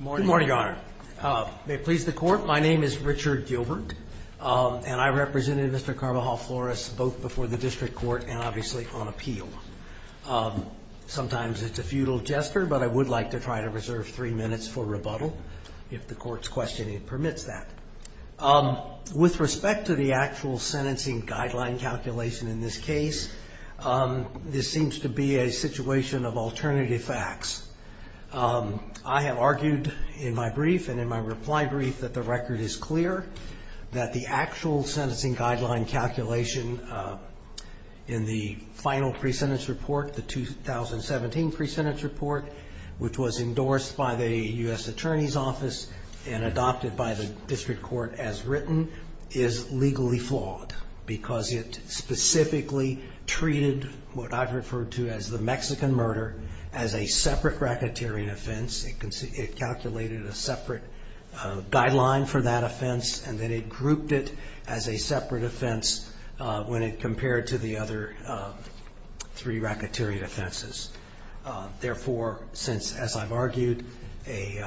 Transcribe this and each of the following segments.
Good morning, Your Honor. May it please the Court, my name is Richard Gilbert, and I represented Mr. Carbajal Flores both before the District Court and obviously on appeal. Sometimes it's a futile gesture, but I would like to try to reserve three minutes for rebuttal, if the Court's questioning permits that. With respect to the actual sentencing guideline calculation in this case, this seems to be a situation of alternative facts. I have argued in my brief and in my reply brief that the record is clear, that the actual sentencing report, which was endorsed by the U.S. Attorney's Office and adopted by the District Court as written, is legally flawed because it specifically treated what I've referred to as the Mexican murder as a separate racketeering offense. It calculated a separate guideline for that offense and then it grouped it as a separate offense when it compared to the other three Therefore, since, as I've argued, a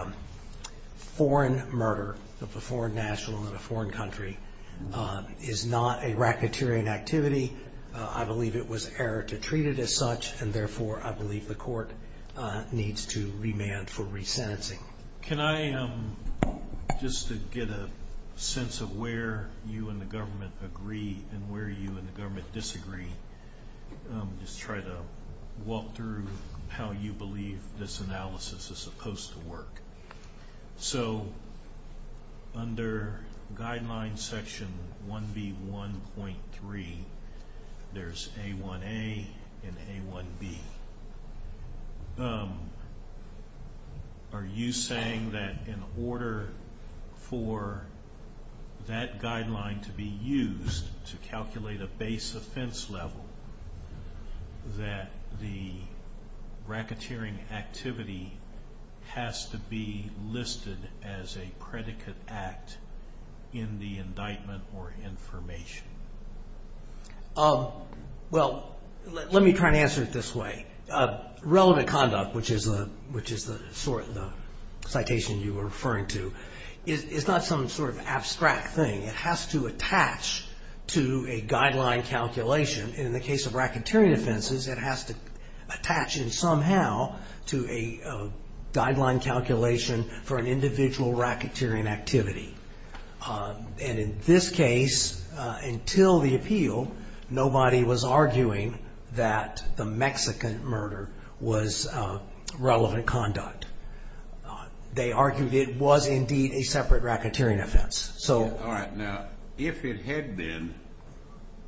foreign murder of a foreign national in a foreign country is not a racketeering activity, I believe it was error to treat it as such, and therefore I believe the Court needs to remand for resentencing. Can I, just to get a sense of where you and the government agree and where you and the District believe this analysis is supposed to work. So, under guideline section 1B.1.3, there's A1A and A1B. Are you saying that in order for that guideline to be used to calculate a base offense level, that the racketeering activity has to be listed as a predicate act in the indictment or information? Well, let me try to answer it this way. Relevant conduct, which is the citation you were referring to, is not some sort of abstract thing. It has to attach to a guideline calculation. In the case of racketeering offenses, it has to attach somehow to a guideline calculation for an individual racketeering activity. In this case, until the appeal, nobody was arguing that the Mexican murder was relevant conduct. They argued it was indeed a separate racketeering offense. All right. Now, if it had been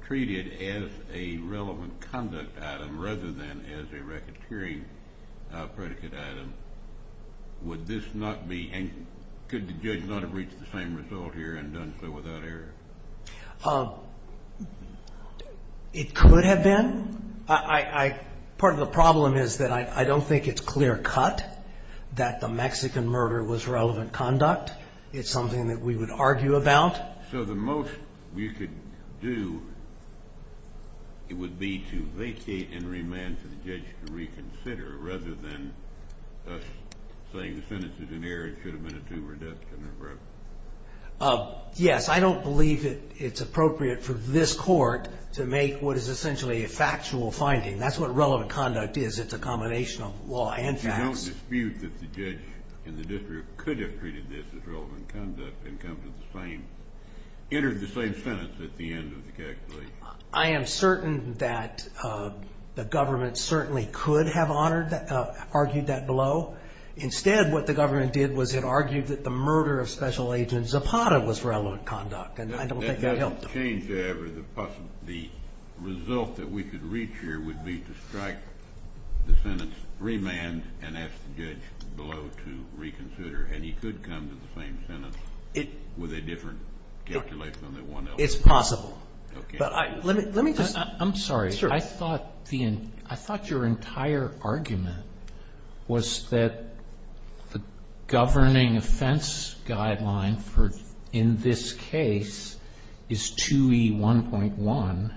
treated as a relevant conduct item rather than as a racketeering predicate item, would this not be, and could the judge not have reached the same result here and done so without error? It could have been. Part of the problem is that I don't think it's clear cut that the Mexican murder was relevant conduct. It's something that we would argue about. So the most we could do, it would be to vacate and remand for the judge to reconsider rather than us saying the sentence is an error, it could have been a two-word death sentence. Right. Yes. I don't believe it's appropriate for this court to make what is essentially a factual finding. That's what relevant conduct is. It's a combination of law and facts. You don't dispute that the judge in the district could have treated this as relevant conduct and entered the same sentence at the end of the calculation? I am certain that the government certainly could have argued that below. Instead, what the government did was it argued that the murder of Special Agent Zapata was relevant conduct, and I don't think that helped them. That doesn't change, however, the result that we could reach here would be to strike the sentence, remand, and ask the judge below to reconsider, and he could come to the same sentence with a different calculation than the one else. It's possible. Okay. I'm sorry. I thought your entire argument was that the governing offense guideline in this case is 2E1.1,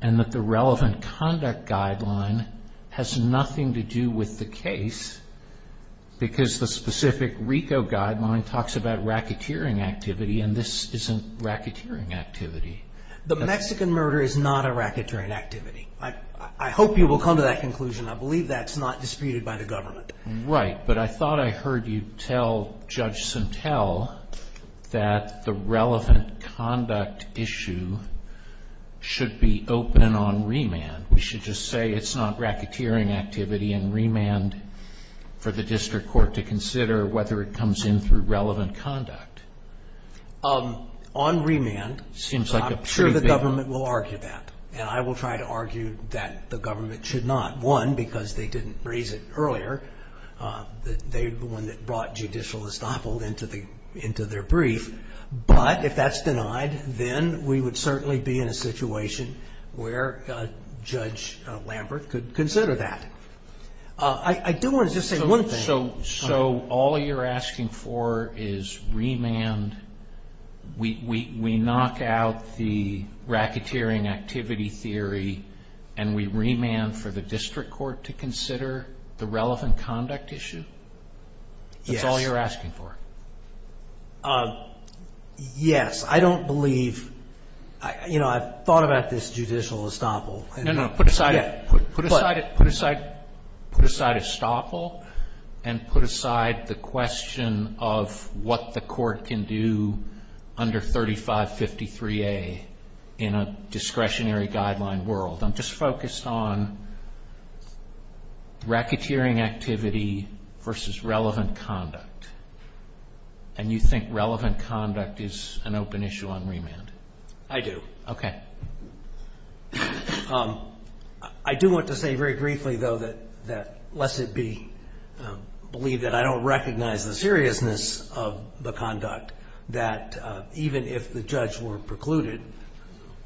and that the relevant conduct guideline has nothing to do with the case because the specific RICO guideline talks about racketeering activity, and this isn't racketeering activity. The Mexican murder is not a racketeering activity. I hope you will come to that conclusion. I believe that's not disputed by the government. Right, but I thought I heard you tell Judge Sentell that the relevant conduct issue should be open and on remand. We should just say it's not racketeering activity and remand for the district court to consider whether it comes in through relevant conduct. On remand, I'm sure the government will argue that, and I will try to argue that the government should not. One, because they didn't raise it earlier. They're the one that brought Judicial Estoppel into their brief, but if that's denied, then we would certainly be in a situation where Judge Lambert could consider that. I do want to just say one thing. So all you're asking for is remand. We knock out the racketeering activity theory, and we remand for the district court to consider the relevant conduct issue? That's all you're asking for? Yes. I don't believe. I've thought about this Judicial Estoppel. No, no. Put aside Estoppel and put aside the question of what the court can do under 3553A in a discretionary guideline world. I'm just focused on racketeering activity versus relevant conduct. And you think relevant conduct is an open issue on remand? I do. Okay. I do want to say very briefly, though, that lest it be believed that I don't recognize the seriousness of the conduct, that even if the judge were precluded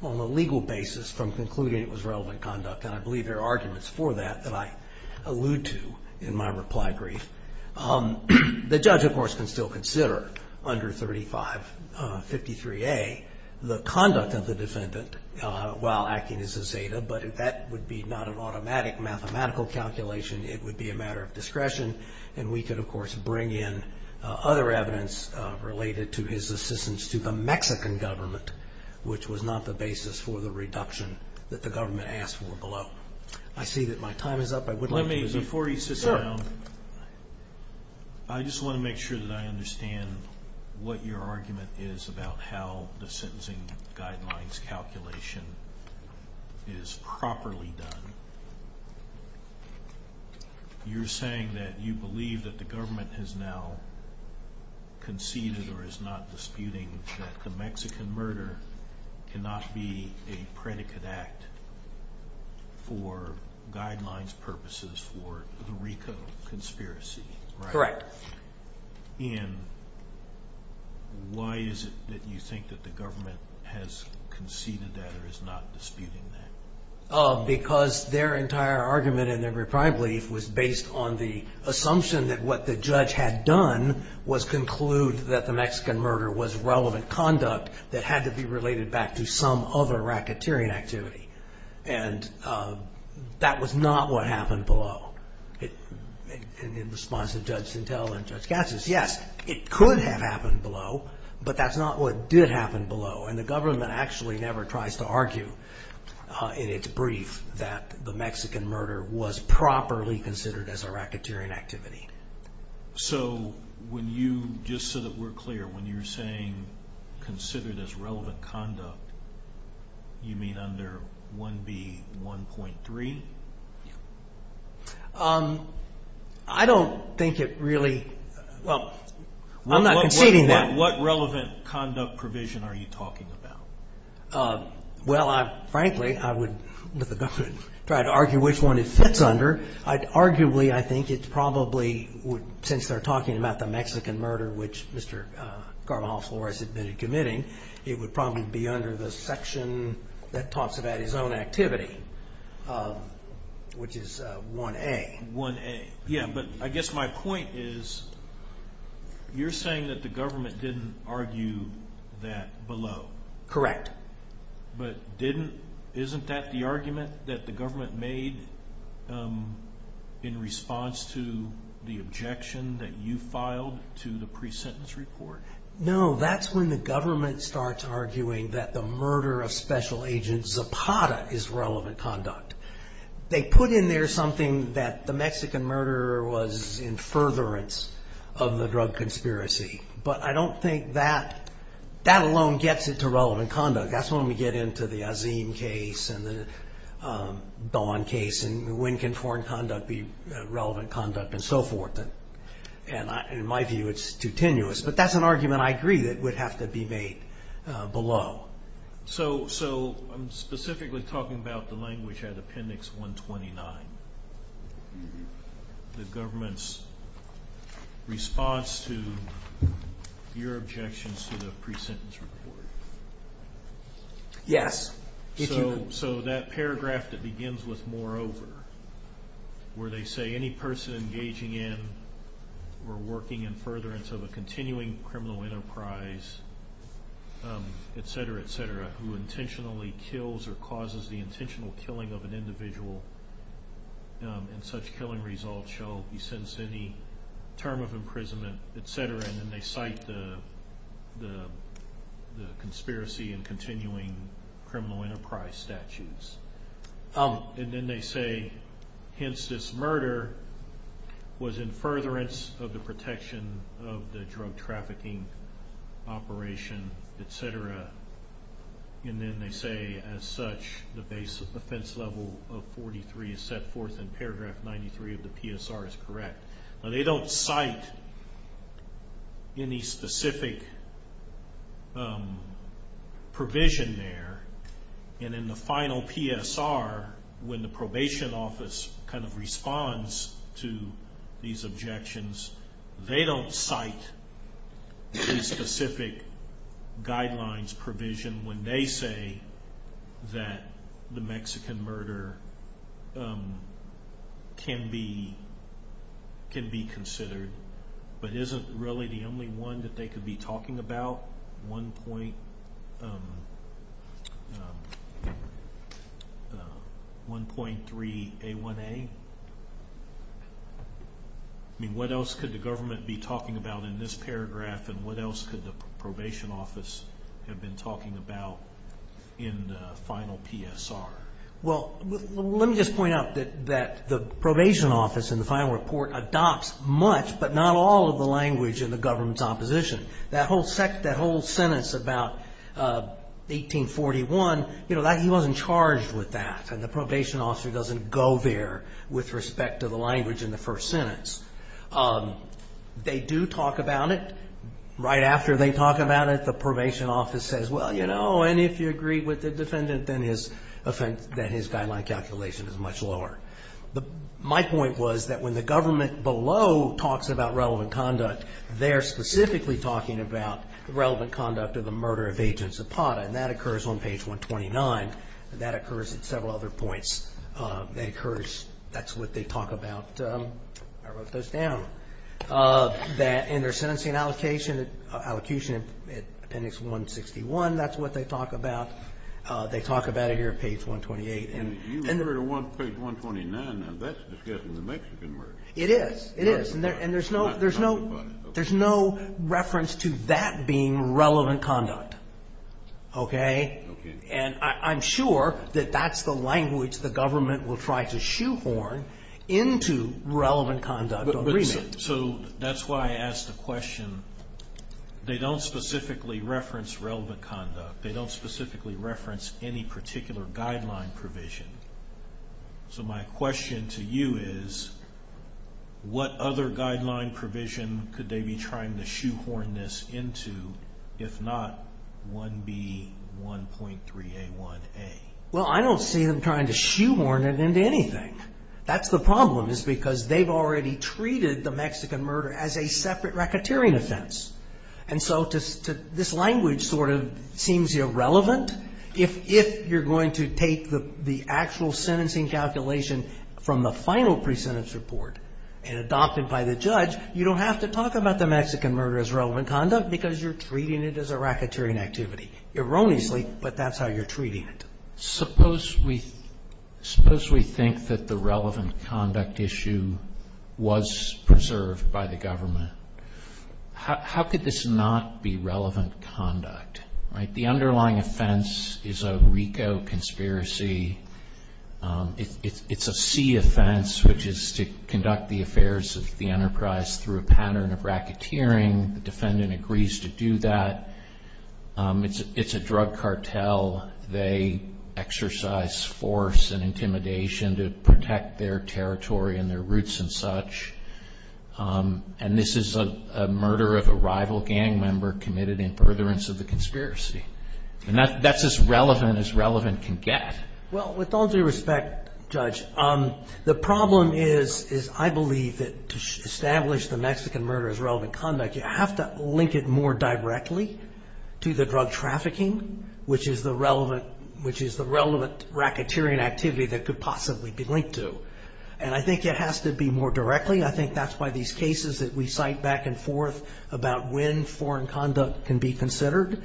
on a legal basis from concluding it was relevant conduct, and I believe there are arguments for that that I allude to in my reply brief, the judge of course can still consider under 3553A the conduct of the defendant while acting as a Zeta, but that would be not an automatic mathematical calculation. It would be a matter of discretion, and we could of course bring in other evidence related to his assistance to the Mexican government, which was not the basis for the reduction that the government asked for below. I see that my time is up. Let me, before you sit down, I just want to make sure that I understand what your argument is about how the sentencing guidelines calculation is properly done. You're saying that you believe that the government has now conceded or is not disputing that the Mexican murder cannot be a predicate act for guidelines purposes for the RICO conspiracy. Correct. Ian, why is it that you think that the government has conceded that or is not disputing that? Because their entire argument in their reply brief was based on the assumption that what the judge had done was conclude that the Mexican murder was relevant conduct that had to be related back to some other racketeering activity, and that was not what happened below. In response to Judge Sintel and Judge Gatzis, yes, it could have happened below, but that's not what did happen below, and the government actually never tries to argue in its brief that the Mexican murder was properly considered as a racketeering activity. So when you, just so that we're clear, when you're saying considered as relevant conduct, you mean under 1B.1.3? I don't think it really, well, I'm not conceding that. What relevant conduct provision are you talking about? Well, frankly, I would, with the government, try to argue which one it sits under. Arguably, I think it's probably, since they're talking about the Mexican murder, which Mr. Carvajal has admitted committing, it would probably be under the section that talks about his own activity. Which is 1A. 1A. Yeah, but I guess my point is, you're saying that the government didn't argue that below. Correct. But didn't, isn't that the argument that the government made in response to the objection that you filed to the pre-sentence report? No, that's when the government starts arguing that the murder of was relevant conduct. They put in there something that the Mexican murderer was in furtherance of the drug conspiracy. But I don't think that, that alone gets it to relevant conduct. That's when we get into the Azeem case, and the Dawn case, and when can foreign conduct be relevant conduct, and so forth. And in my view, it's too tenuous. But that's an argument I agree that would have to be made below. So I'm specifically talking about the language at Appendix 129. The government's response to your objections to the pre-sentence report. Yes. So that paragraph that begins with moreover, where they say any person engaging in or working in furtherance of a continuing criminal enterprise, et cetera, et cetera, who intentionally kills or causes the intentional killing of an individual, and such killing result shall be sentenced to any term of imprisonment, et cetera, and then they cite the conspiracy and continuing criminal enterprise statutes. And then they say, hence this murder was in furtherance of the protection of the drug trafficking operation, et cetera. And then they say, as such, the base offense level of 43 is set forth in paragraph 93 of the PSR is correct. Now they don't cite any specific provision there. And in the final PSR, when the probation office kind of responds to these objections, they don't cite a specific guidelines provision when they say that the Mexican murder can be considered. But is it really the only one that they could be talking about? 1.3 A1A? I mean, what else could the government be talking about in this paragraph and what else could the probation office have been talking about in the final PSR? Well, let me just point out that the probation office in the final report adopts much but not all of the language in the government's opposition. That whole sentence about 1841, you know, he wasn't charged with that. And the probation officer doesn't go there with respect to the language in the first sentence. They do talk about it. Right after they talk about it, the probation office says, well, you know, and if you agree with the defendant, then his guideline calculation is much lower. My point was that when the government below talks about relevant conduct, they're specifically talking about the relevant conduct of the murder of Agent Zapata. And that occurs on page 129. That occurs at several other points. That occurs, that's what they talk about. I wrote those down. And their sentencing allocation at appendix 161, that's what they talk about. They talk about it here at page 128. And you refer to page 129. Now, that's discussing the Mexican murder. It is. It is. And there's no reference to that being relevant conduct. Okay? Okay. And I'm sure that that's the language the government will try to shoehorn into relevant conduct agreement. So that's why I asked the question. They don't specifically reference relevant conduct. They don't specifically reference any particular guideline provision. So my question to you is, what other guideline provision could they be trying to shoehorn this into if not 1B1.3A1A? Well, I don't see them trying to shoehorn it into anything. That's the problem is because they've already treated the Mexican murder as a separate racketeering offense. And so this language sort of seems irrelevant. If you're going to take the actual sentencing calculation from the final pre-sentence report and adopt it by the judge, you don't have to talk about the Mexican murder as relevant conduct because you're treating it as a racketeering activity. Erroneously, but that's how you're treating it. Suppose we think that the relevant conduct issue was preserved by the government. How could this not be relevant conduct? The underlying offense is a RICO conspiracy. It's a C offense, which is to conduct the affairs of the enterprise through a pattern of racketeering. The defendant agrees to do that. It's a drug cartel. They exercise force and intimidation to protect their territory and their roots and such. And this is a murder of a rival gang member committed in furtherance of the conspiracy. And that's as relevant as relevant can get. Well, with all due respect, Judge, the problem is I believe that to establish the Mexican murder as relevant conduct, you have to link it more directly to the drug trafficking, which is the relevant racketeering activity that could possibly be linked to. And I think it has to be more directly. I think that's why these cases that we cite back and forth about when foreign conduct can be considered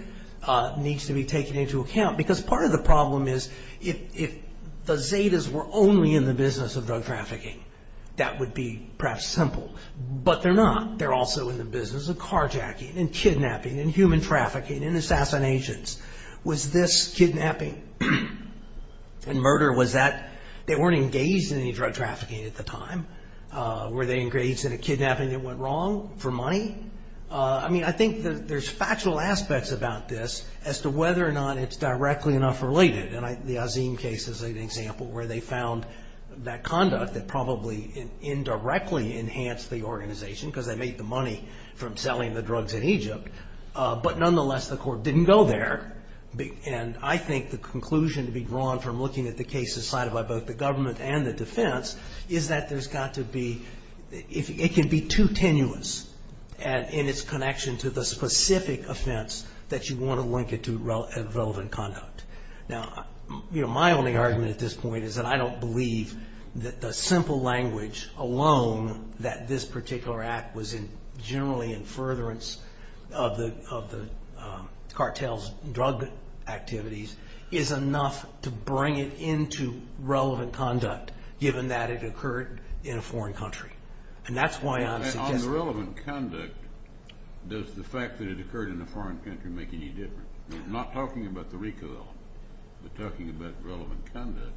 needs to be taken into account. Because part of the problem is if the Zetas were only in the business of drug trafficking, that would be perhaps simple. But they're not. They're also in the business of carjacking and kidnapping and human trafficking and assassinations. Was this kidnapping and murder? They weren't engaged in any drug trafficking at the time. Were they engaged in a kidnapping that went wrong for money? I mean, I think there's factual aspects about this as to whether or not it's directly enough related. And the Azeem case is an example where they found that conduct that probably indirectly enhanced the organization because they made the money from selling the drugs in Egypt. But nonetheless, the court didn't go there. And I think the conclusion to be drawn from looking at the cases cited by both the government and the defense is that there's got to be... It can be too tenuous in its connection to the specific offense that you want to link it to relevant conduct. Now, you know, my only argument at this point is that I don't believe that the simple language alone that this particular act was in generally in furtherance of the cartels' drug activities is enough to bring it into relevant conduct given that it occurred in a foreign country. And that's why I'm suggesting... On the relevant conduct, does the fact that it occurred in a foreign country make any difference? Not talking about the recall, but talking about relevant conduct,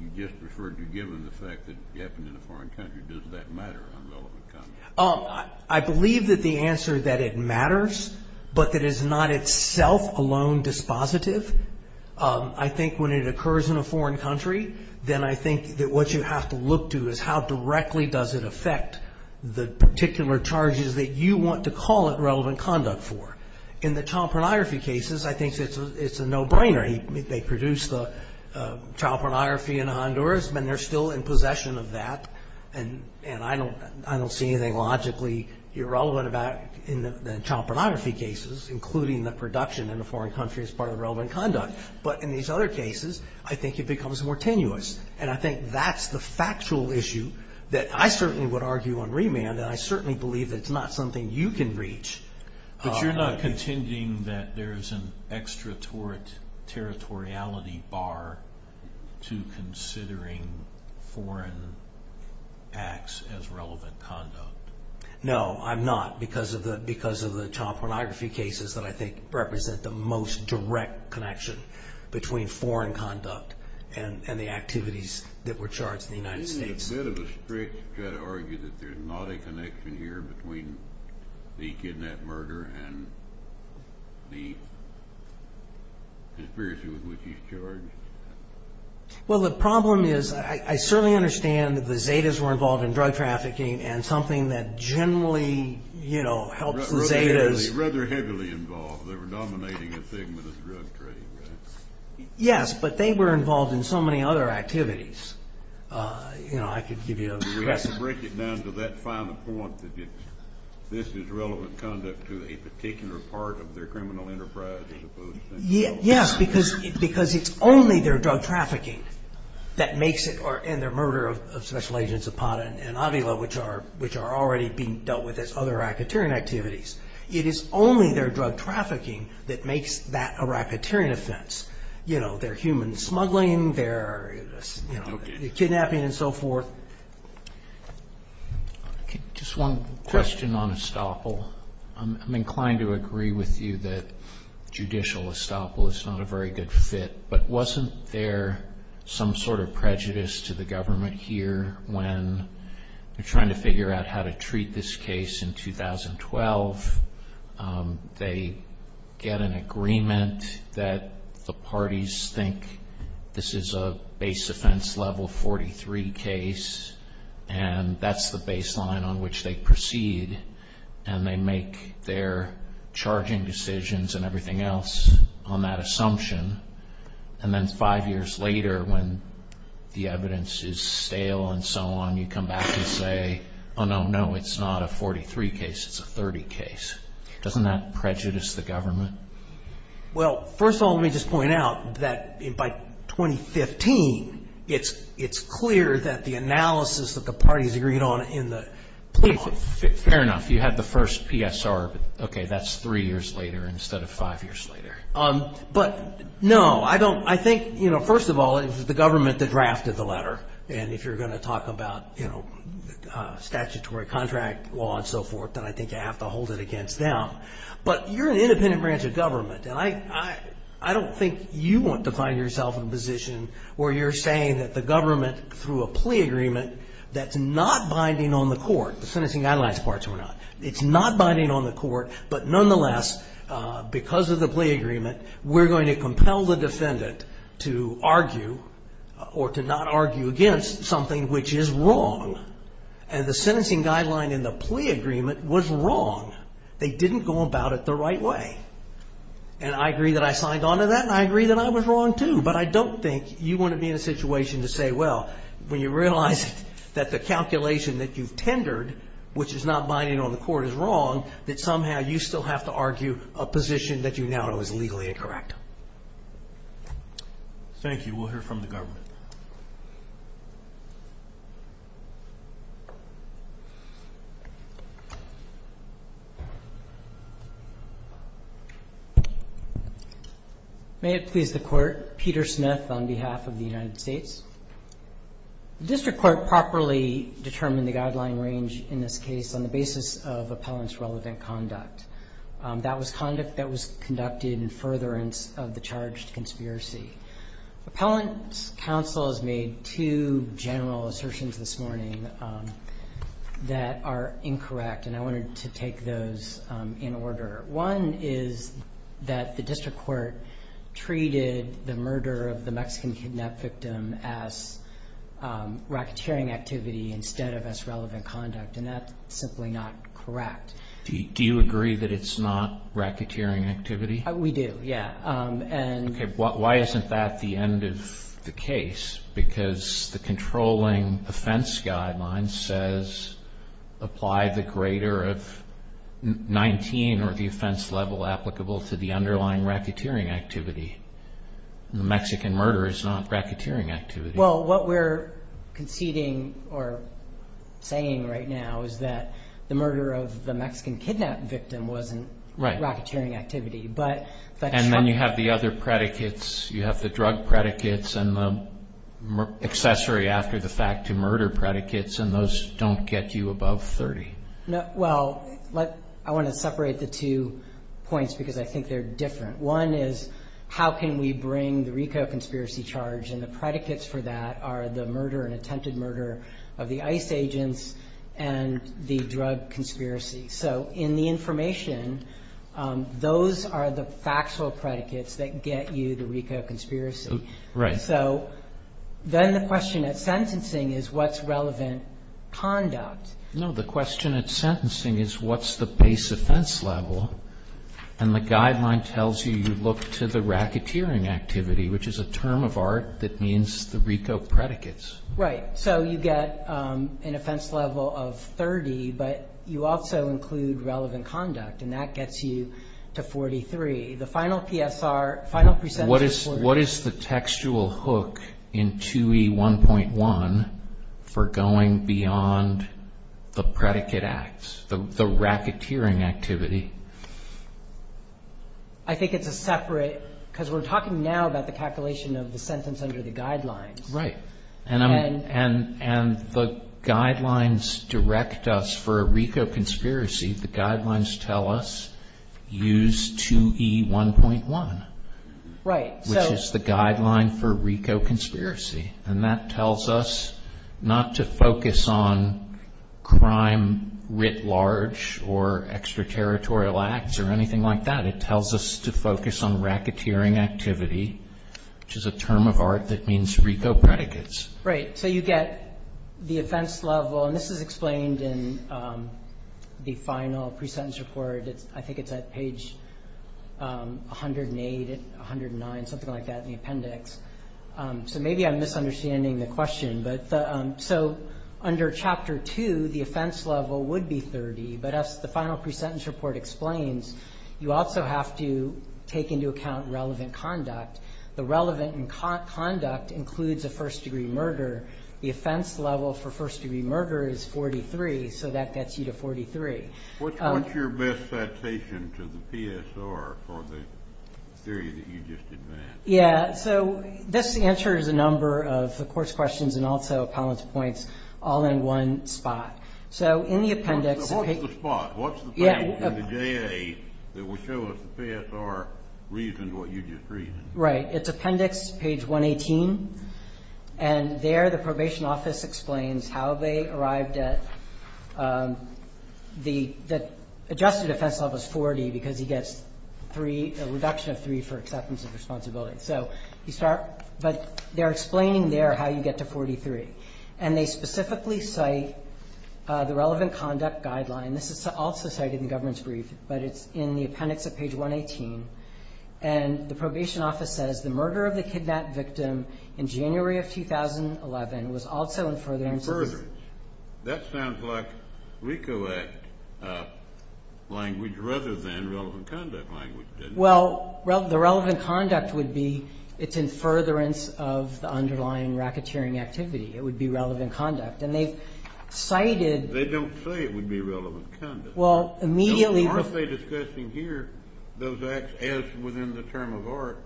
you just referred to given the fact that it happened in a foreign country, does that matter on relevant conduct? I believe that the answer that it matters, but that it's not itself alone dispositive, I think when it occurs in a foreign country, then I think that what you have to look to is how directly does it affect the particular charges that you want to call it relevant conduct for. In the child pornography cases, I think it's a no-brainer. They produced the child pornography in Honduras, but they're still in possession of that, and I don't see anything logically irrelevant in the child pornography cases, including the production in a foreign country as part of relevant conduct. But in these other cases, I think it becomes more tenuous, and I think that's the factual issue that I certainly would argue on remand, and I certainly believe that it's not something you can reach. But you're not contending that there's an extraterritoriality bar to considering foreign acts as relevant conduct? No, I'm not. Because of the child pornography cases that I think represent the most direct connection between foreign conduct and the activities that were charged in the United States. Isn't it a bit of a stretch to argue that there's not a connection here between the kidnap-murder and the conspiracy with which he's charged? Well, the problem is I certainly understand that the Zetas were involved in drug trafficking and something that generally helps the Zetas Rather heavily involved. They were dominating a segment of the drug trade, right? Yes, but they were involved in so many other activities. You know, I could give you a We have to break it down to that final point that this is relevant conduct to a particular part of their criminal enterprise, as opposed to Yes, because it's only their drug trafficking that makes it, and their murder of Special Agents Zapata and Avila which are already being dealt with as other racketeering activities It is only their drug trafficking that makes that a racketeering offense You know, their human smuggling their kidnapping and so forth Just one question on estoppel I'm inclined to agree with you that judicial estoppel is not a very good fit but wasn't there some sort of prejudice to the government here when they're trying to figure out how to treat this case in 2012 they get an agreement that the parties think this is a base offense level 43 case and that's the baseline on which they proceed and they make their charging decisions and everything else on that assumption and then five years later when the evidence is stale and so on you come back and say it's not a 43 case, it's a 30 case doesn't that prejudice the government Well, first of all, let me just point out that by 2015 it's clear that the analysis that the parties agreed on Fair enough you had the first PSR that's three years later instead of five years later but no I think first of all it was the government that drafted the letter and if you're going to talk about statutory contract law and so forth then I think you have to hold it against them but you're an independent branch of government and I don't think you want to find yourself in a position where you're saying that the government through a plea agreement that's not binding on the court the sentencing guidelines parts were not it's not binding on the court but nonetheless because of the plea agreement we're going to compel the defendant to argue or to not argue against something which is wrong and the sentencing guideline in the plea agreement was wrong they didn't go about it the right way and I agree that I signed on to that and I agree that I was wrong too but I don't think you want to be in a situation to say well, when you realize that the calculation that you've tendered which is not binding on the court is wrong that somehow you still have to argue a position that you now know is legally incorrect Thank you, we'll hear from the government May it please the court, Peter Smith on behalf of the United States The district court properly determined the guideline range in this case on the basis of appellant's relevant conduct that was conduct that was conducted in furtherance of the charged conspiracy Appellant's counsel has made two general assertions this morning that are incorrect and I wanted to take those in order one is that the district court treated the murder of the Mexican kidnap victim as racketeering activity instead of appellant's relevant conduct and that's simply not correct Do you agree that it's not racketeering activity? We do, yeah Why isn't that the end of the case? Because the controlling offense guideline says apply the greater of 19 or the offense level applicable to the underlying racketeering activity Mexican murder is not racketeering activity Well what we're conceding or saying right now is that the murder of the Mexican kidnap victim wasn't racketeering activity And then you have the other predicates you have the drug predicates and the accessory after the fact to murder predicates and those don't get you above 30 Well I want to separate the two points because I think they're different One is how can we bring the RICO conspiracy charge and the predicates for that are the murder and attempted murder of the ICE agents and the drug conspiracy So in the information those are the factual predicates that get you the RICO conspiracy Then the question at sentencing is what's relevant conduct No, the question at sentencing is what's the base offense level and the guideline tells you you look to the racketeering activity which is a term of art that means the RICO predicates So you get an offense level of 30 but you also include relevant conduct and that gets you to 43 The final PSR What is the textual hook in 2E1.1 for going beyond the predicate acts, the racketeering activity I think it's a separate because we're talking now about the calculation of the sentence under the guidelines and the guidelines direct us for a RICO conspiracy the guidelines tell us use 2E1.1 which is the guideline for RICO conspiracy and that tells us not to focus on crime writ large or extraterritorial acts or anything like that, it tells us to focus on racketeering activity which is a term of art that means RICO predicates So you get the offense level and this is explained in the final pre-sentence report I think it's at page 108 109, something like that in the appendix so maybe I'm misunderstanding the question so under chapter 2 the offense level would be 30 but as the final pre-sentence report explains you also have to take into account relevant conduct the relevant conduct includes a first degree murder the offense level for first degree murder is 43 so that gets you to 43 What's your best citation to the PSR for the theory that you just advanced This answers a number of the court's questions and also Collins points all in one spot So in the appendix What's the spot in the JA that will show us the PSR reasoned what you just reasoned It's appendix page 118 and there the probation office explains how they arrived at the adjusted offense level is 40 because he gets a reduction of 3 for acceptance of responsibility but they're explaining there how you get to 43 and they specifically cite the relevant conduct guideline this is also cited in the government's brief but it's in the appendix of page 118 and the probation office says the murder of the kidnapped victim in January of 2011 was also in furtherance That sounds like RICO Act language rather than relevant conduct language Well the relevant conduct would be it's in furtherance of the underlying racketeering activity it would be relevant conduct They don't say it would be relevant conduct Well immediately Aren't they discussing here those acts as within the term of art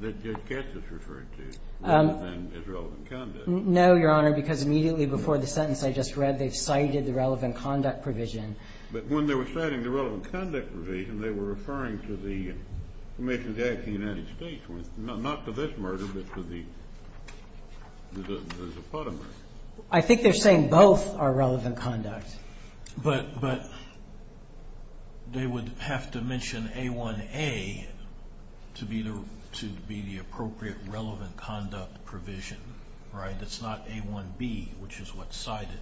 that Judge Katz has referred to as relevant conduct No your honor because immediately before the sentence I just read they've cited the relevant conduct provision But when they were citing the relevant conduct provision they were referring to the Commissions Act of the United States not to this murder but to the there's a part of that I think they're saying both are relevant conduct But they would have to mention A1A to be the appropriate relevant conduct provision right it's not A1B which is what's cited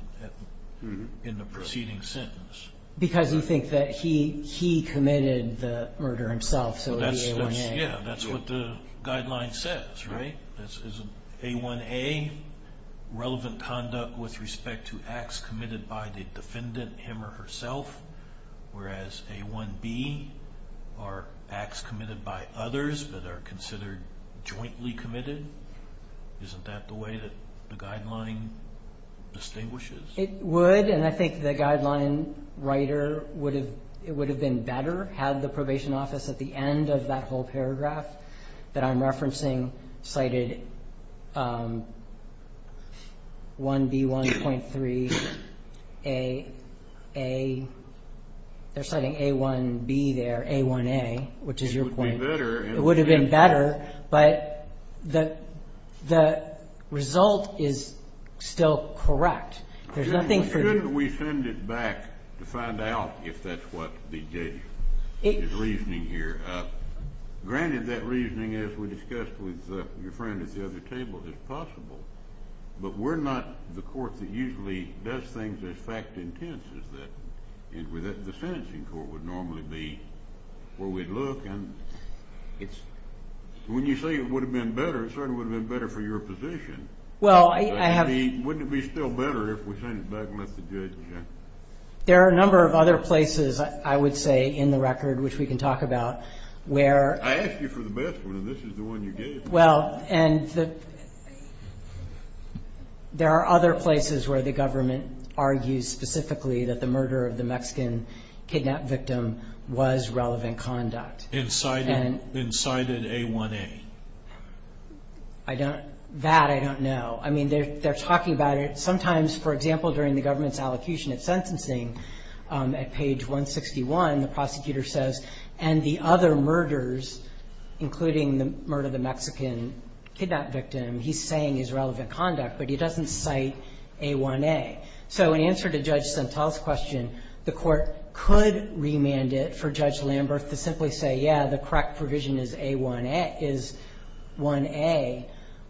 in the preceding sentence Because you think that he committed the murder himself so it would be A1A That's what the guideline says A1A relevant conduct with respect to acts committed by the defendant him or herself whereas A1B are acts committed by others that are considered jointly committed Isn't that the way that the guideline distinguishes It would and I think the guideline writer would have been better had the probation office at the end of that whole paragraph that I'm referencing cited 1B 1.3 A They're citing A1B there A1A which is your point It would have been better but the result is still correct Shouldn't we send it back to find out if that's what the reasoning here granted that reasoning as we discussed with your friend at the other table is possible but we're not the court that usually does things as fact intense as that the sentencing court would normally be where we'd look and when you say it would have been better it certainly would have been better for your position Wouldn't it be still better if we sent it back There are a number of other places I would say in the record which we can talk about I asked you for the best one and this is the one you gave me There are other places where the government argues specifically that the murder of the Mexican kidnap victim was relevant conduct and cited A1A That I don't know sometimes for example during the government's allocution of sentencing at page 161 the prosecutor says and the other murders including the murder of the Mexican kidnap victim, he's saying is relevant conduct but he doesn't cite A1A so in answer to Judge Santel's question the court could remand it for Judge Lamberth to simply say yeah the correct provision is A1A is 1A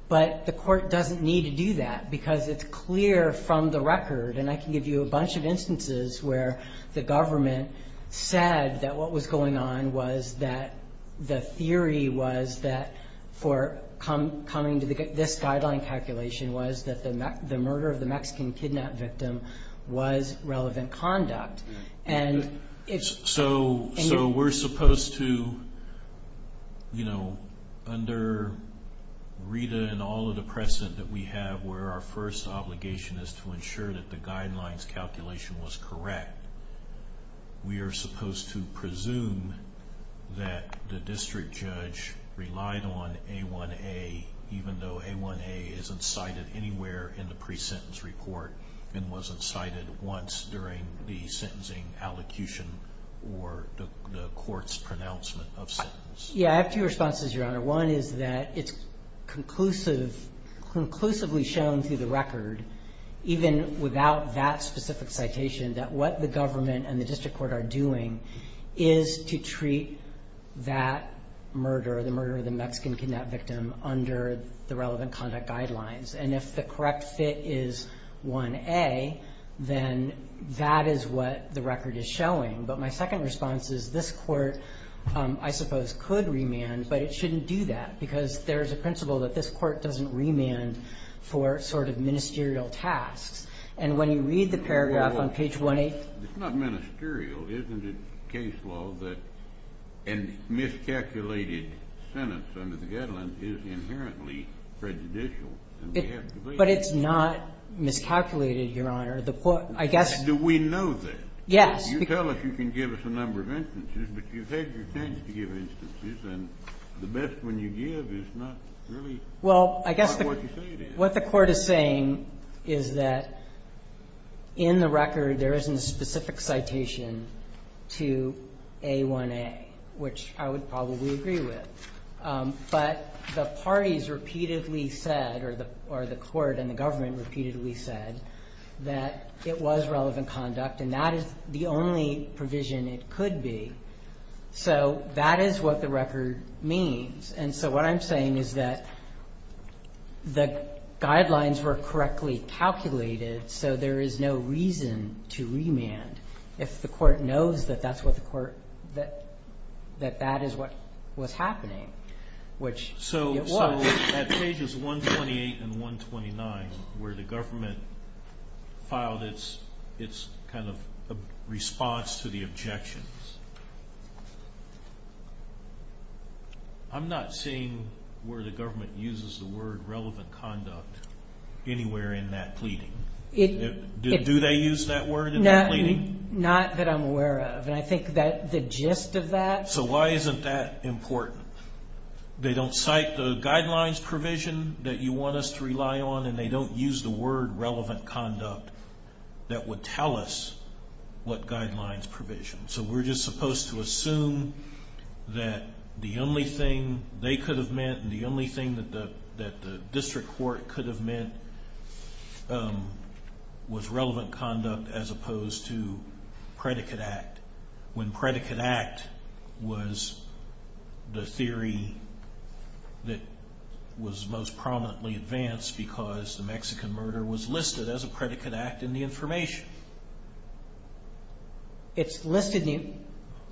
but the court doesn't need to do that because it's clear from the record and I can give you a bunch of instances where the government said that what was going on was that the theory was that for coming to this guideline calculation was that the murder of the Mexican kidnap victim was relevant conduct and so we're supposed to you know under Rita and all of the precedent that we have where our first obligation is to ensure that the guidelines calculation was correct we are supposed to presume that the district judge relied on A1A even though A1A isn't cited anywhere in the pre-sentence report and wasn't cited once during the sentencing allocation or the court's pronouncement of sentence I have two responses your honor, one is that it's conclusively shown through the record even without that specific citation that what the government and the district court are doing is to treat that murder, the murder of the Mexican kidnap victim under the relevant conduct guidelines and if the correct fit is 1A then that is what the record is showing but my second response is this court I suppose could remand but it shouldn't do that because there's a principle that this court doesn't remand for sort of ministerial tasks and when you read the paragraph on page 1A It's not ministerial isn't it case law that a miscalculated sentence under the guidelines is inherently prejudicial but it's not miscalculated your honor do we know that you tell us you can give us a number of instances but you've had your chance to give instances and the best one you give is not really what the court is saying is that in the record there isn't a specific citation to A1A which I would probably agree with but the or the court and the government repeatedly said that it was relevant conduct and that is the only provision it could be so that is what the record means and so what I'm saying is that the guidelines were correctly calculated so there is no reason to remand if the court knows that that's what the court that that is what was happening which it was so at pages 128 and 129 where the government filed its its kind of response to the objections I'm not seeing where the government uses the word relevant conduct anywhere in that pleading do they use that word in that pleading not that I'm aware of and I think that the gist of that so why isn't that important they don't cite the guidelines provision that you want us to rely on and they don't use the word relevant conduct that would tell us what guidelines provision so we're just supposed to assume that the only thing they could have meant and the only thing that the district court could have meant was relevant conduct as opposed to predicate act when predicate act was the theory that was most prominently advanced because the Mexican murder was listed as a predicate act in the information it's listed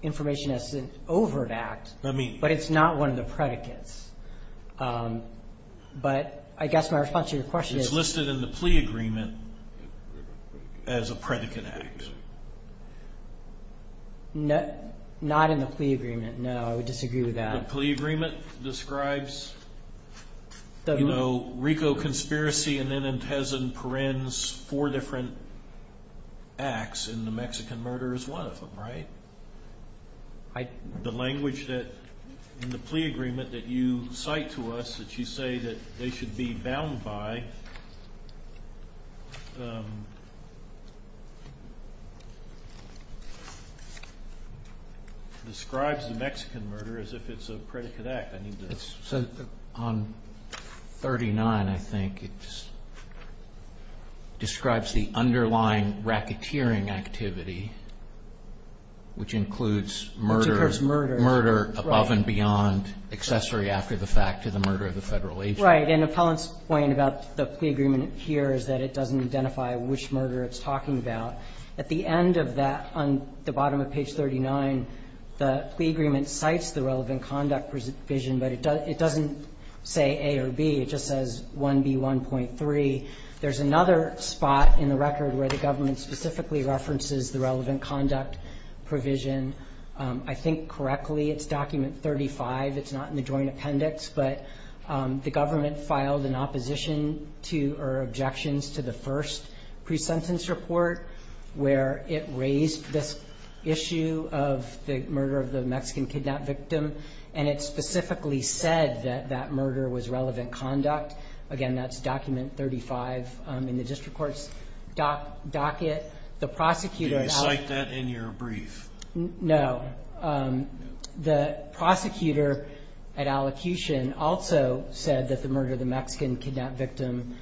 information as an overt act but it's not one of the predicates but I guess my response to your question is listed in the plea agreement as a predicate act not in the plea agreement no I would disagree with that the plea agreement describes you know Rico Conspiracy and then Perenz four different acts and the Mexican murder is one of them right the language that in the plea agreement that you cite to us that you say that they should be bound by describes the Mexican murder as if it's a predicate act on 39 I think describes the underlying racketeering activity which includes murder above and beyond accessory after the fact to the murder of the federal agent right and Apollon's point about the plea agreement here is that it doesn't identify which murder it's talking about at the end of that on the bottom of page 39 the plea agreement cites the relevant conduct provision but it doesn't say A or B it just says 1B1.3 there's another spot in the record where the government specifically references the relevant conduct provision I think correctly it's document 35 it's not in the joint appendix but the government filed an opposition to or objections to the first pre-sentence report where it raised this issue of the murder of the Mexican kidnap victim and it specifically said that that murder was relevant conduct again that's document 35 in the district court's docket. The prosecutor Did you cite that in your brief? No The prosecutor at allocution also said that the murder of the Mexican kidnap victim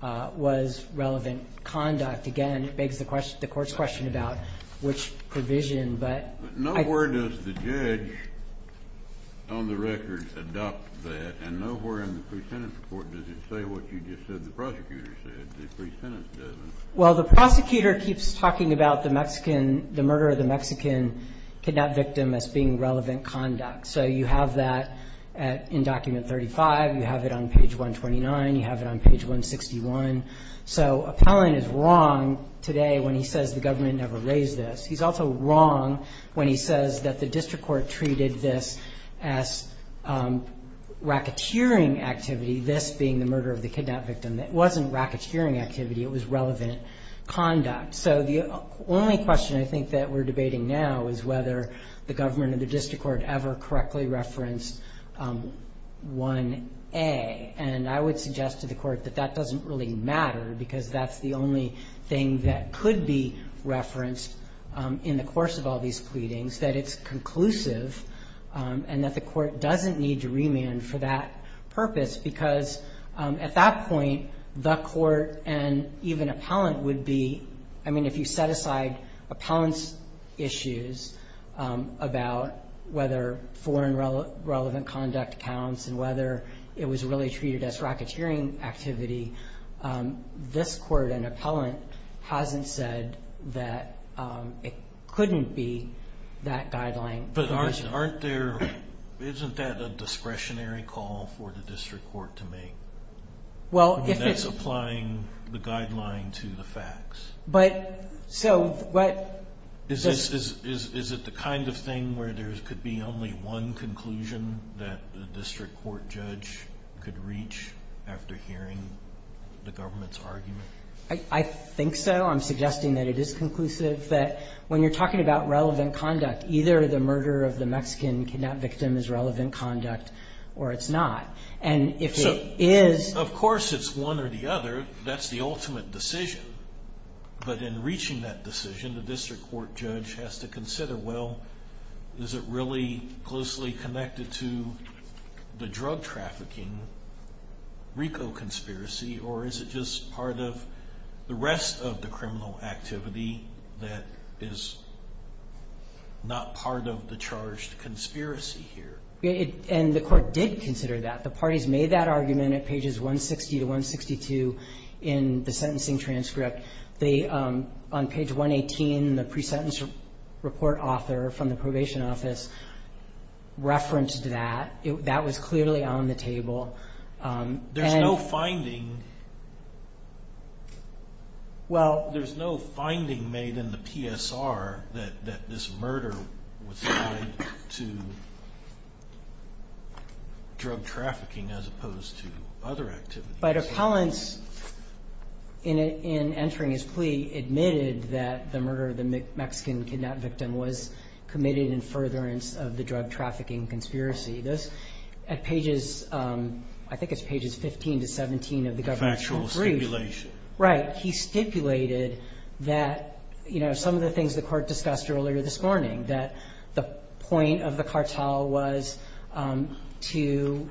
was relevant conduct. Again it begs the court's question about which provision but Nowhere does the judge on the record adopt that and nowhere in the pre-sentence report does it say what you just said the prosecutor said the pre-sentence doesn't Well the prosecutor keeps talking about the Mexican the murder of the Mexican kidnap victim as being relevant conduct. So you have that in document 35 you have it on page 129 you have it on page 161 so Appellant is wrong today when he says the government never raised this he's also wrong when he says that the district court treated this as racketeering activity this being the murder of the kidnap victim it wasn't racketeering activity it was relevant conduct. So the only question I think that we're debating now is whether the government or the district court ever correctly referenced 1A and I would suggest to the court that that doesn't really matter because that's the only thing that could be referenced in the course of all these pleadings that it's conclusive and that the court doesn't need to remand for that purpose because at that point the court and even Appellant would be, I mean if you set aside Appellant's issues about whether foreign relevant conduct counts and whether it was really treated as racketeering activity this court and Appellant hasn't said that it couldn't be that guideline. But aren't there isn't that a discretionary call for the district court to make? Well if it's applying the guideline to the facts. But so what Is it the kind of thing where there could be only one conclusion that the district court judge could reach after hearing the government's argument? I think so. I'm suggesting that it is conclusive that when you're talking about relevant conduct either the murder of the Mexican kidnap victim is relevant conduct or it's not. Of course it's one or the other. That's the ultimate decision. But in that case the district court judge has to consider well is it really closely connected to the drug trafficking RICO conspiracy or is it just part of the rest of the criminal activity that is not part of the charged conspiracy here? And the court did consider that the parties made that argument at pages 160 to 162 in the sentencing transcript on page 118 the pre-sentence report author from the probation office referenced that that was clearly on the table There's no finding Well There's no finding made in the PSR that this murder was tied to drug trafficking as opposed to other activities. But appellants in entering his plea admitted that the murder of the Mexican kidnap victim was committed in furtherance of the drug trafficking conspiracy at pages I think it's pages 15 to 17 of the government's brief Right. He stipulated that you know some of the things the court discussed earlier this morning that the point of the cartel was to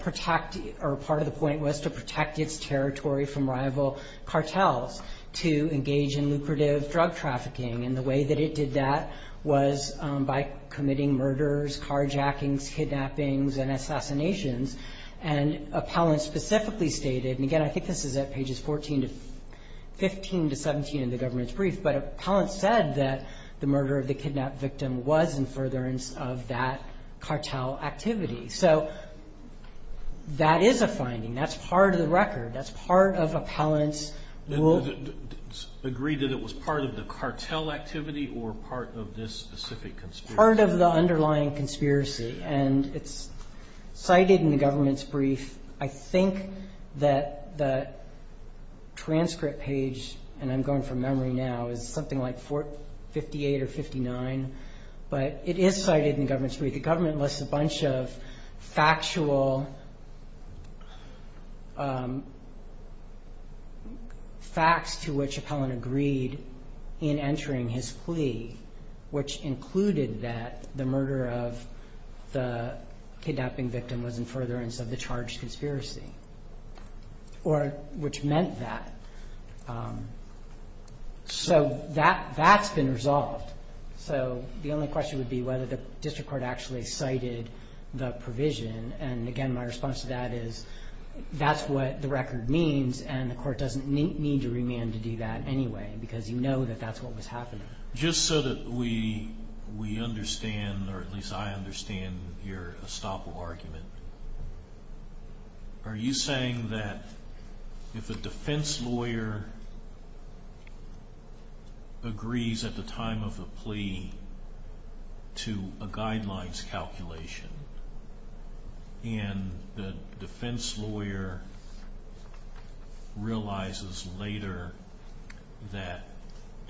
protect or part of the point was to protect its territory from rival cartels to engage in lucrative drug trafficking and the way that it did that was by committing murders, carjackings kidnappings and assassinations and appellants specifically stated and again I think this is at pages 14 to 15 to 17 in the government's brief but appellants said that the murder of the kidnap victim was in furtherance of that cartel activity so that is a finding that's part of the record that's part of appellants will agree that it was part of the cartel activity or part of this specific conspiracy part of the underlying conspiracy and it's cited in the government's brief I think that the transcript page and I'm going from memory now is something like 48 or 59 but it is cited in the government's a bunch of factual facts to which appellant agreed in entering his plea which included that the murder of the kidnapping victim was in furtherance of the charged conspiracy which meant that so that's been resolved so the only question would be whether the district court actually cited the provision and again my response to that is that's what the record means and the court doesn't need to remand to do that anyway because you know that that's what was happening just so that we understand or at least I understand your estoppel argument are you saying that if a defense lawyer agrees at the time of the to a guidelines calculation and the defense lawyer realizes later that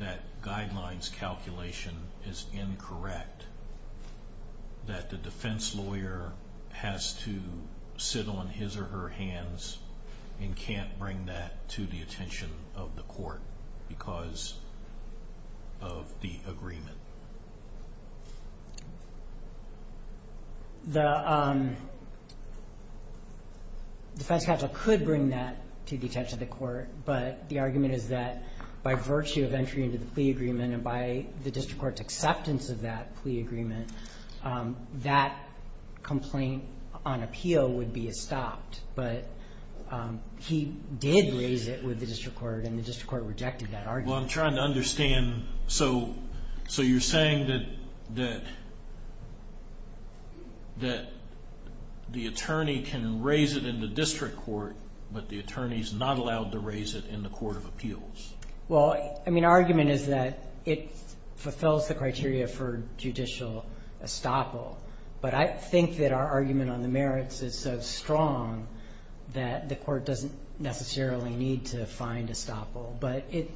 that guidelines calculation is incorrect that the defense lawyer has to sit on his or her hands and can't bring that to the attention of the court because of the agreement the defense counsel could bring that to the attention of the court but the argument is that by virtue of entry into the plea agreement and by the district court's acceptance of that plea agreement that complaint on appeal would be estopped but he did raise it with the district court and the district court rejected that argument well I'm trying to understand so you're saying that the attorney can raise it in the district court but the attorney is not allowed to raise it in the court of appeals well I mean our argument is that it fulfills the criteria for judicial estoppel but I think that our argument on the merits is so strong that the court doesn't necessarily need to find estoppel but it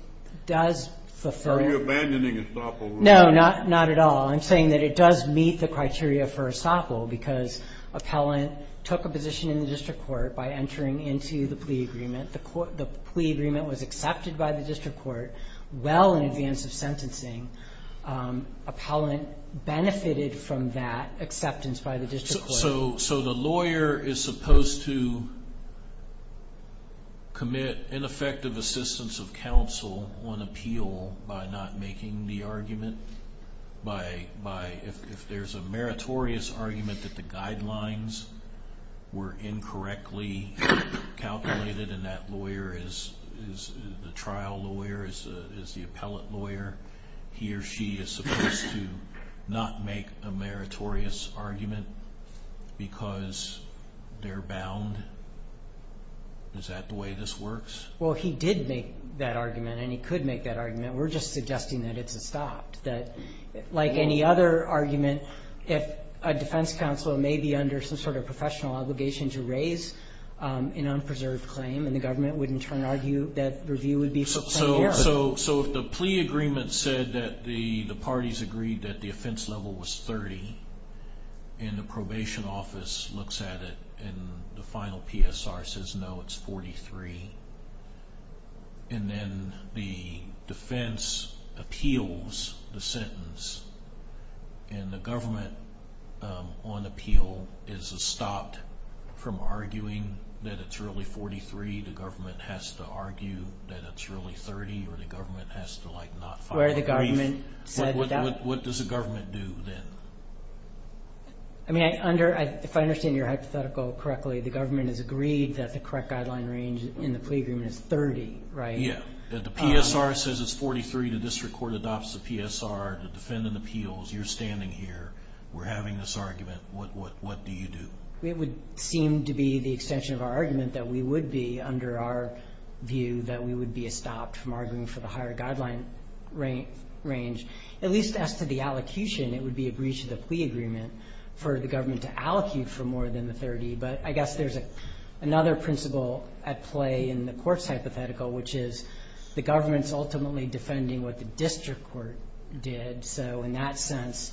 does are you abandoning estoppel? no not at all I'm saying that it does meet the criteria for estoppel because appellant took a position in the district court by entering into the plea agreement the plea agreement was accepted by the district court well in advance of sentencing appellant benefited from that acceptance by the district court so the lawyer is supposed to commit ineffective assistance of counsel on appeal by not making the argument by if there's a meritorious argument that the guidelines were incorrectly calculated and that lawyer is the trial lawyer is the appellant lawyer he or she is supposed to not make a meritorious argument because they're bound is that the way this works? well he did make that argument and he could make that argument we're just suggesting that it's stopped like any other argument if a defense counsel may be under some sort of professional obligation to raise an unpreserved claim and the government would in turn argue that review would be for plenary so if the plea agreement said that the parties agreed that the offense level was 30 and the probation office looks at it and the final PSR says no it's 43 and then the defense appeals the sentence and the government on appeal is stopped from arguing that it's really 43 the government has to argue that it's really 30 or the government has to like not what does the government do then? I mean under if I understand your hypothetical correctly the government has agreed that the correct guideline range in the plea agreement is 30 right? yeah the PSR says it's 43 the district court adopts the PSR the defendant appeals you're standing here we're having this argument what do you do? it would seem to be the extension of our argument that we would be under our view that we would be stopped from arguing for the higher guideline range at least as to the allocution it would be a breach of the plea agreement for the government to allocate for more than the 30 but I guess there's another principle at play in the court's hypothetical which is the government's ultimately defending what the district court did so in that sense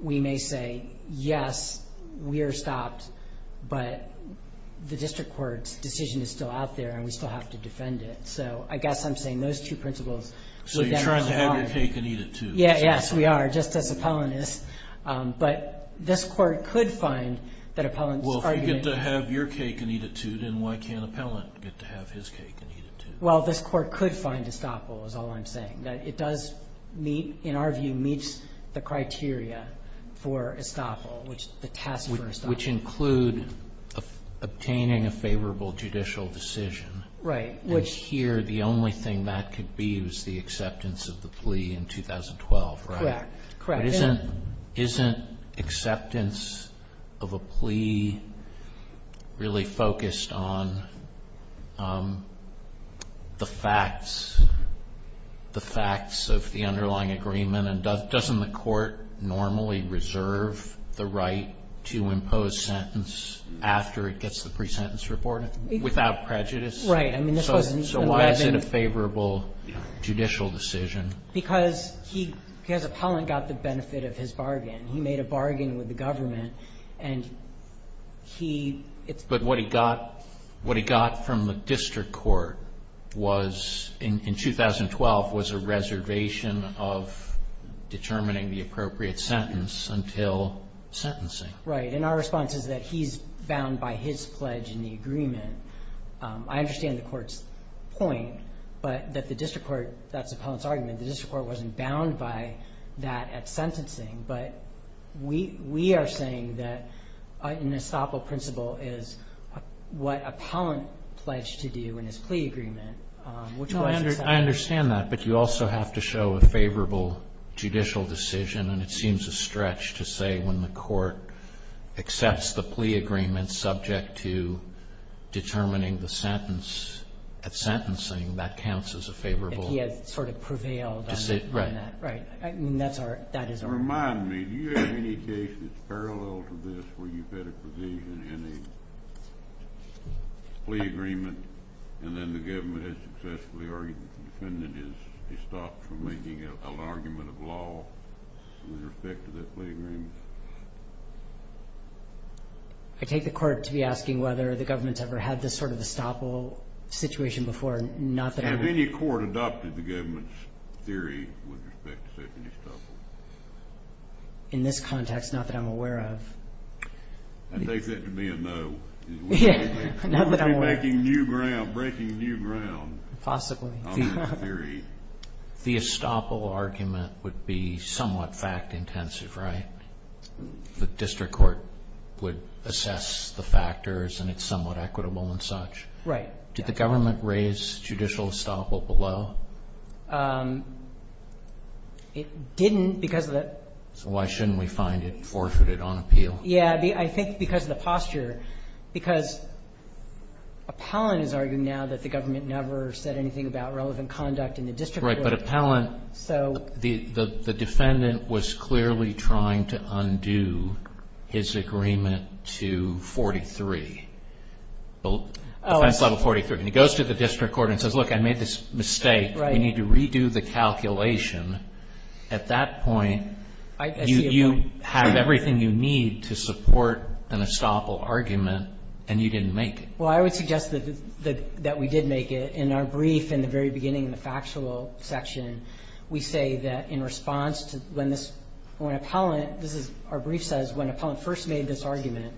we may say yes we are stopped but the district court's decision is still out there and we still have to defend it so I guess I'm saying those two principles so you're trying to have your cake and eat it too yes we are just as appellant is but this court could find that appellant well if you get to have your cake and eat it too then why can't appellant get to have his cake and eat it too? well this court could find estoppel is all I'm saying it does meet in our view meets the criteria for estoppel which the task which include obtaining a favorable judicial decision right which here the only thing that could be is the acceptance of the plea in 2012 correct isn't acceptance of a plea really focused on the facts the facts of the underlying agreement doesn't the court normally reserve the right to impose sentence after it gets the pre-sentence report without prejudice so why is it a favorable judicial decision because appellant got the benefit of his bargain he made a bargain with the government and he but what he got from the district court was in 2012 was a reservation of determining the appropriate sentence until sentencing right and our response is that he's bound by his pledge in the agreement I understand the court's point but that the district court wasn't bound by that at sentencing but we are saying that an estoppel principle is what appellant pledged to do in his plea agreement I understand that but you also have to show a favorable judicial decision and it seems a stretch to say when the court accepts the plea agreement subject to determining the sentence at sentencing that counts as a favorable he has sort of prevailed right remind me do you have any cases parallel to this where you've had a provision in a plea agreement and then the government has successfully or the defendant has stopped from making an argument of law with respect to that plea agreement I take the court to be asking whether the government's ever had this sort of estoppel situation before have any court adopted the government's theory with respect to estoppel in this context not that I'm aware of I take that to be a no not that I'm aware of breaking new ground possibly the estoppel argument would be somewhat fact intensive right the district court would assess the factors and it's somewhat equitable and such right did the government raise judicial estoppel below um it didn't because of the so why shouldn't we find it forfeited on appeal yeah I think because of the posture because appellant is arguing now that the government never said anything about relevant conduct in the district court so the defendant was clearly trying to undo his agreement to 43 defense level 43 and he goes to the district court and says look I made this mistake we need to redo the calculation at that point you have everything you need to support an estoppel argument and you didn't make it well I would suggest that we did make it in our brief in the very beginning in the factual section we say that in response to when this when appellant this is our brief says when appellant first made this argument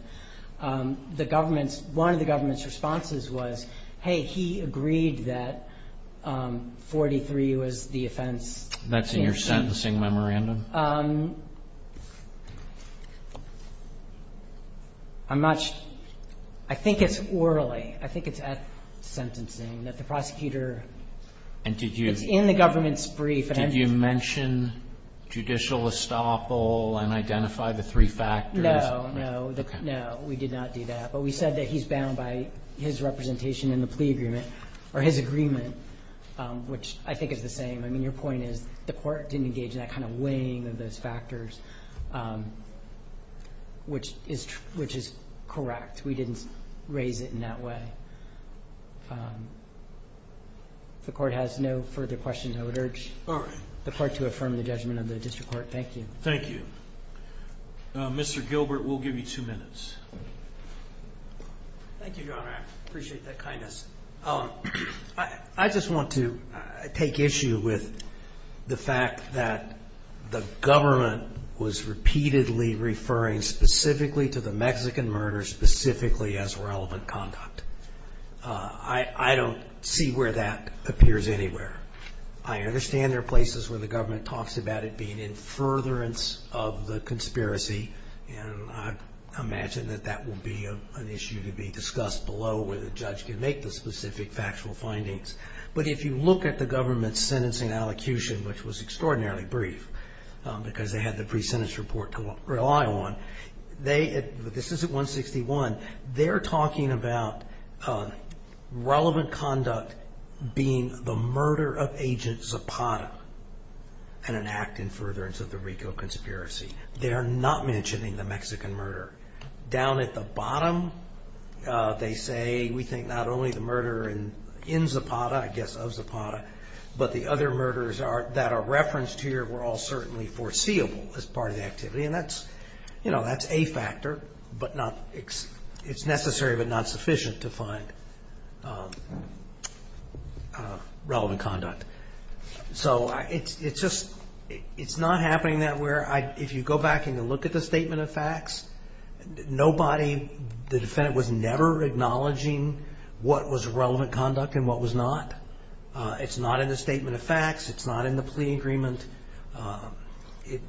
the government's one of the government's responses was hey he agreed that um 43 was the offense that's in your sentencing memorandum um I'm not sure I think it's orally I think it's at sentencing that the prosecutor and did you it's in the government's brief did you mention judicial estoppel and identify the three factors no no we did not do that but we said that he's bound by his representation in the plea agreement or his agreement which I think is the same I mean your point is the court didn't engage in that kind of weighing of those factors which is which is correct we didn't raise it in that way um the court has no further questions I would urge the court to affirm the judgment of the district court thank you thank you Mr. Gilbert we'll give you two minutes thank you your honor I appreciate that kindness I just want to take issue with the fact that the government was repeatedly referring specifically to the Mexican murder specifically as relevant conduct I don't see where that appears anywhere I understand there are places where the government talks about it being in furtherance of the conspiracy and I imagine that that will be an issue to be discussed below where the judge can make the specific factual findings but if you look at the government's sentencing allocution which was extraordinarily brief because they had the pre-sentence report to rely on this is at 161 they're talking about relevant conduct being the murder of agent Zapata and an act in furtherance of the RICO conspiracy they are not mentioning the Mexican murder down at the bottom they say we think not only the murder in Zapata I guess of Zapata but the other murders that are referenced here were all certainly foreseeable as part of the activity and that's a factor it's necessary but not sufficient to find relevant conduct so it's not happening where if you go back and look at the statement of facts the defendant was never acknowledging what was relevant conduct and what was not it's not in the statement of facts it's not in the plea agreement it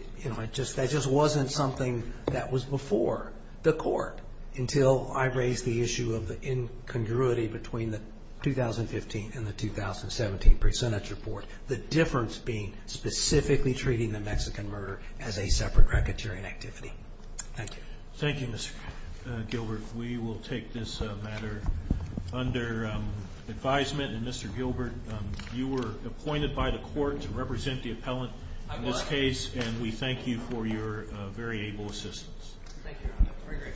just wasn't something that was before the court until I raised the issue of the incongruity between the 2015 and the 2017 pre-sentence report the difference being specifically treating the Mexican murder as a separate racketeering activity. Thank you. Thank you Mr. Gilbert we will take this matter under advisement and Mr. Gilbert you were appointed by the court to represent the appellant in this case and we thank you for your very able assistance. Thank you.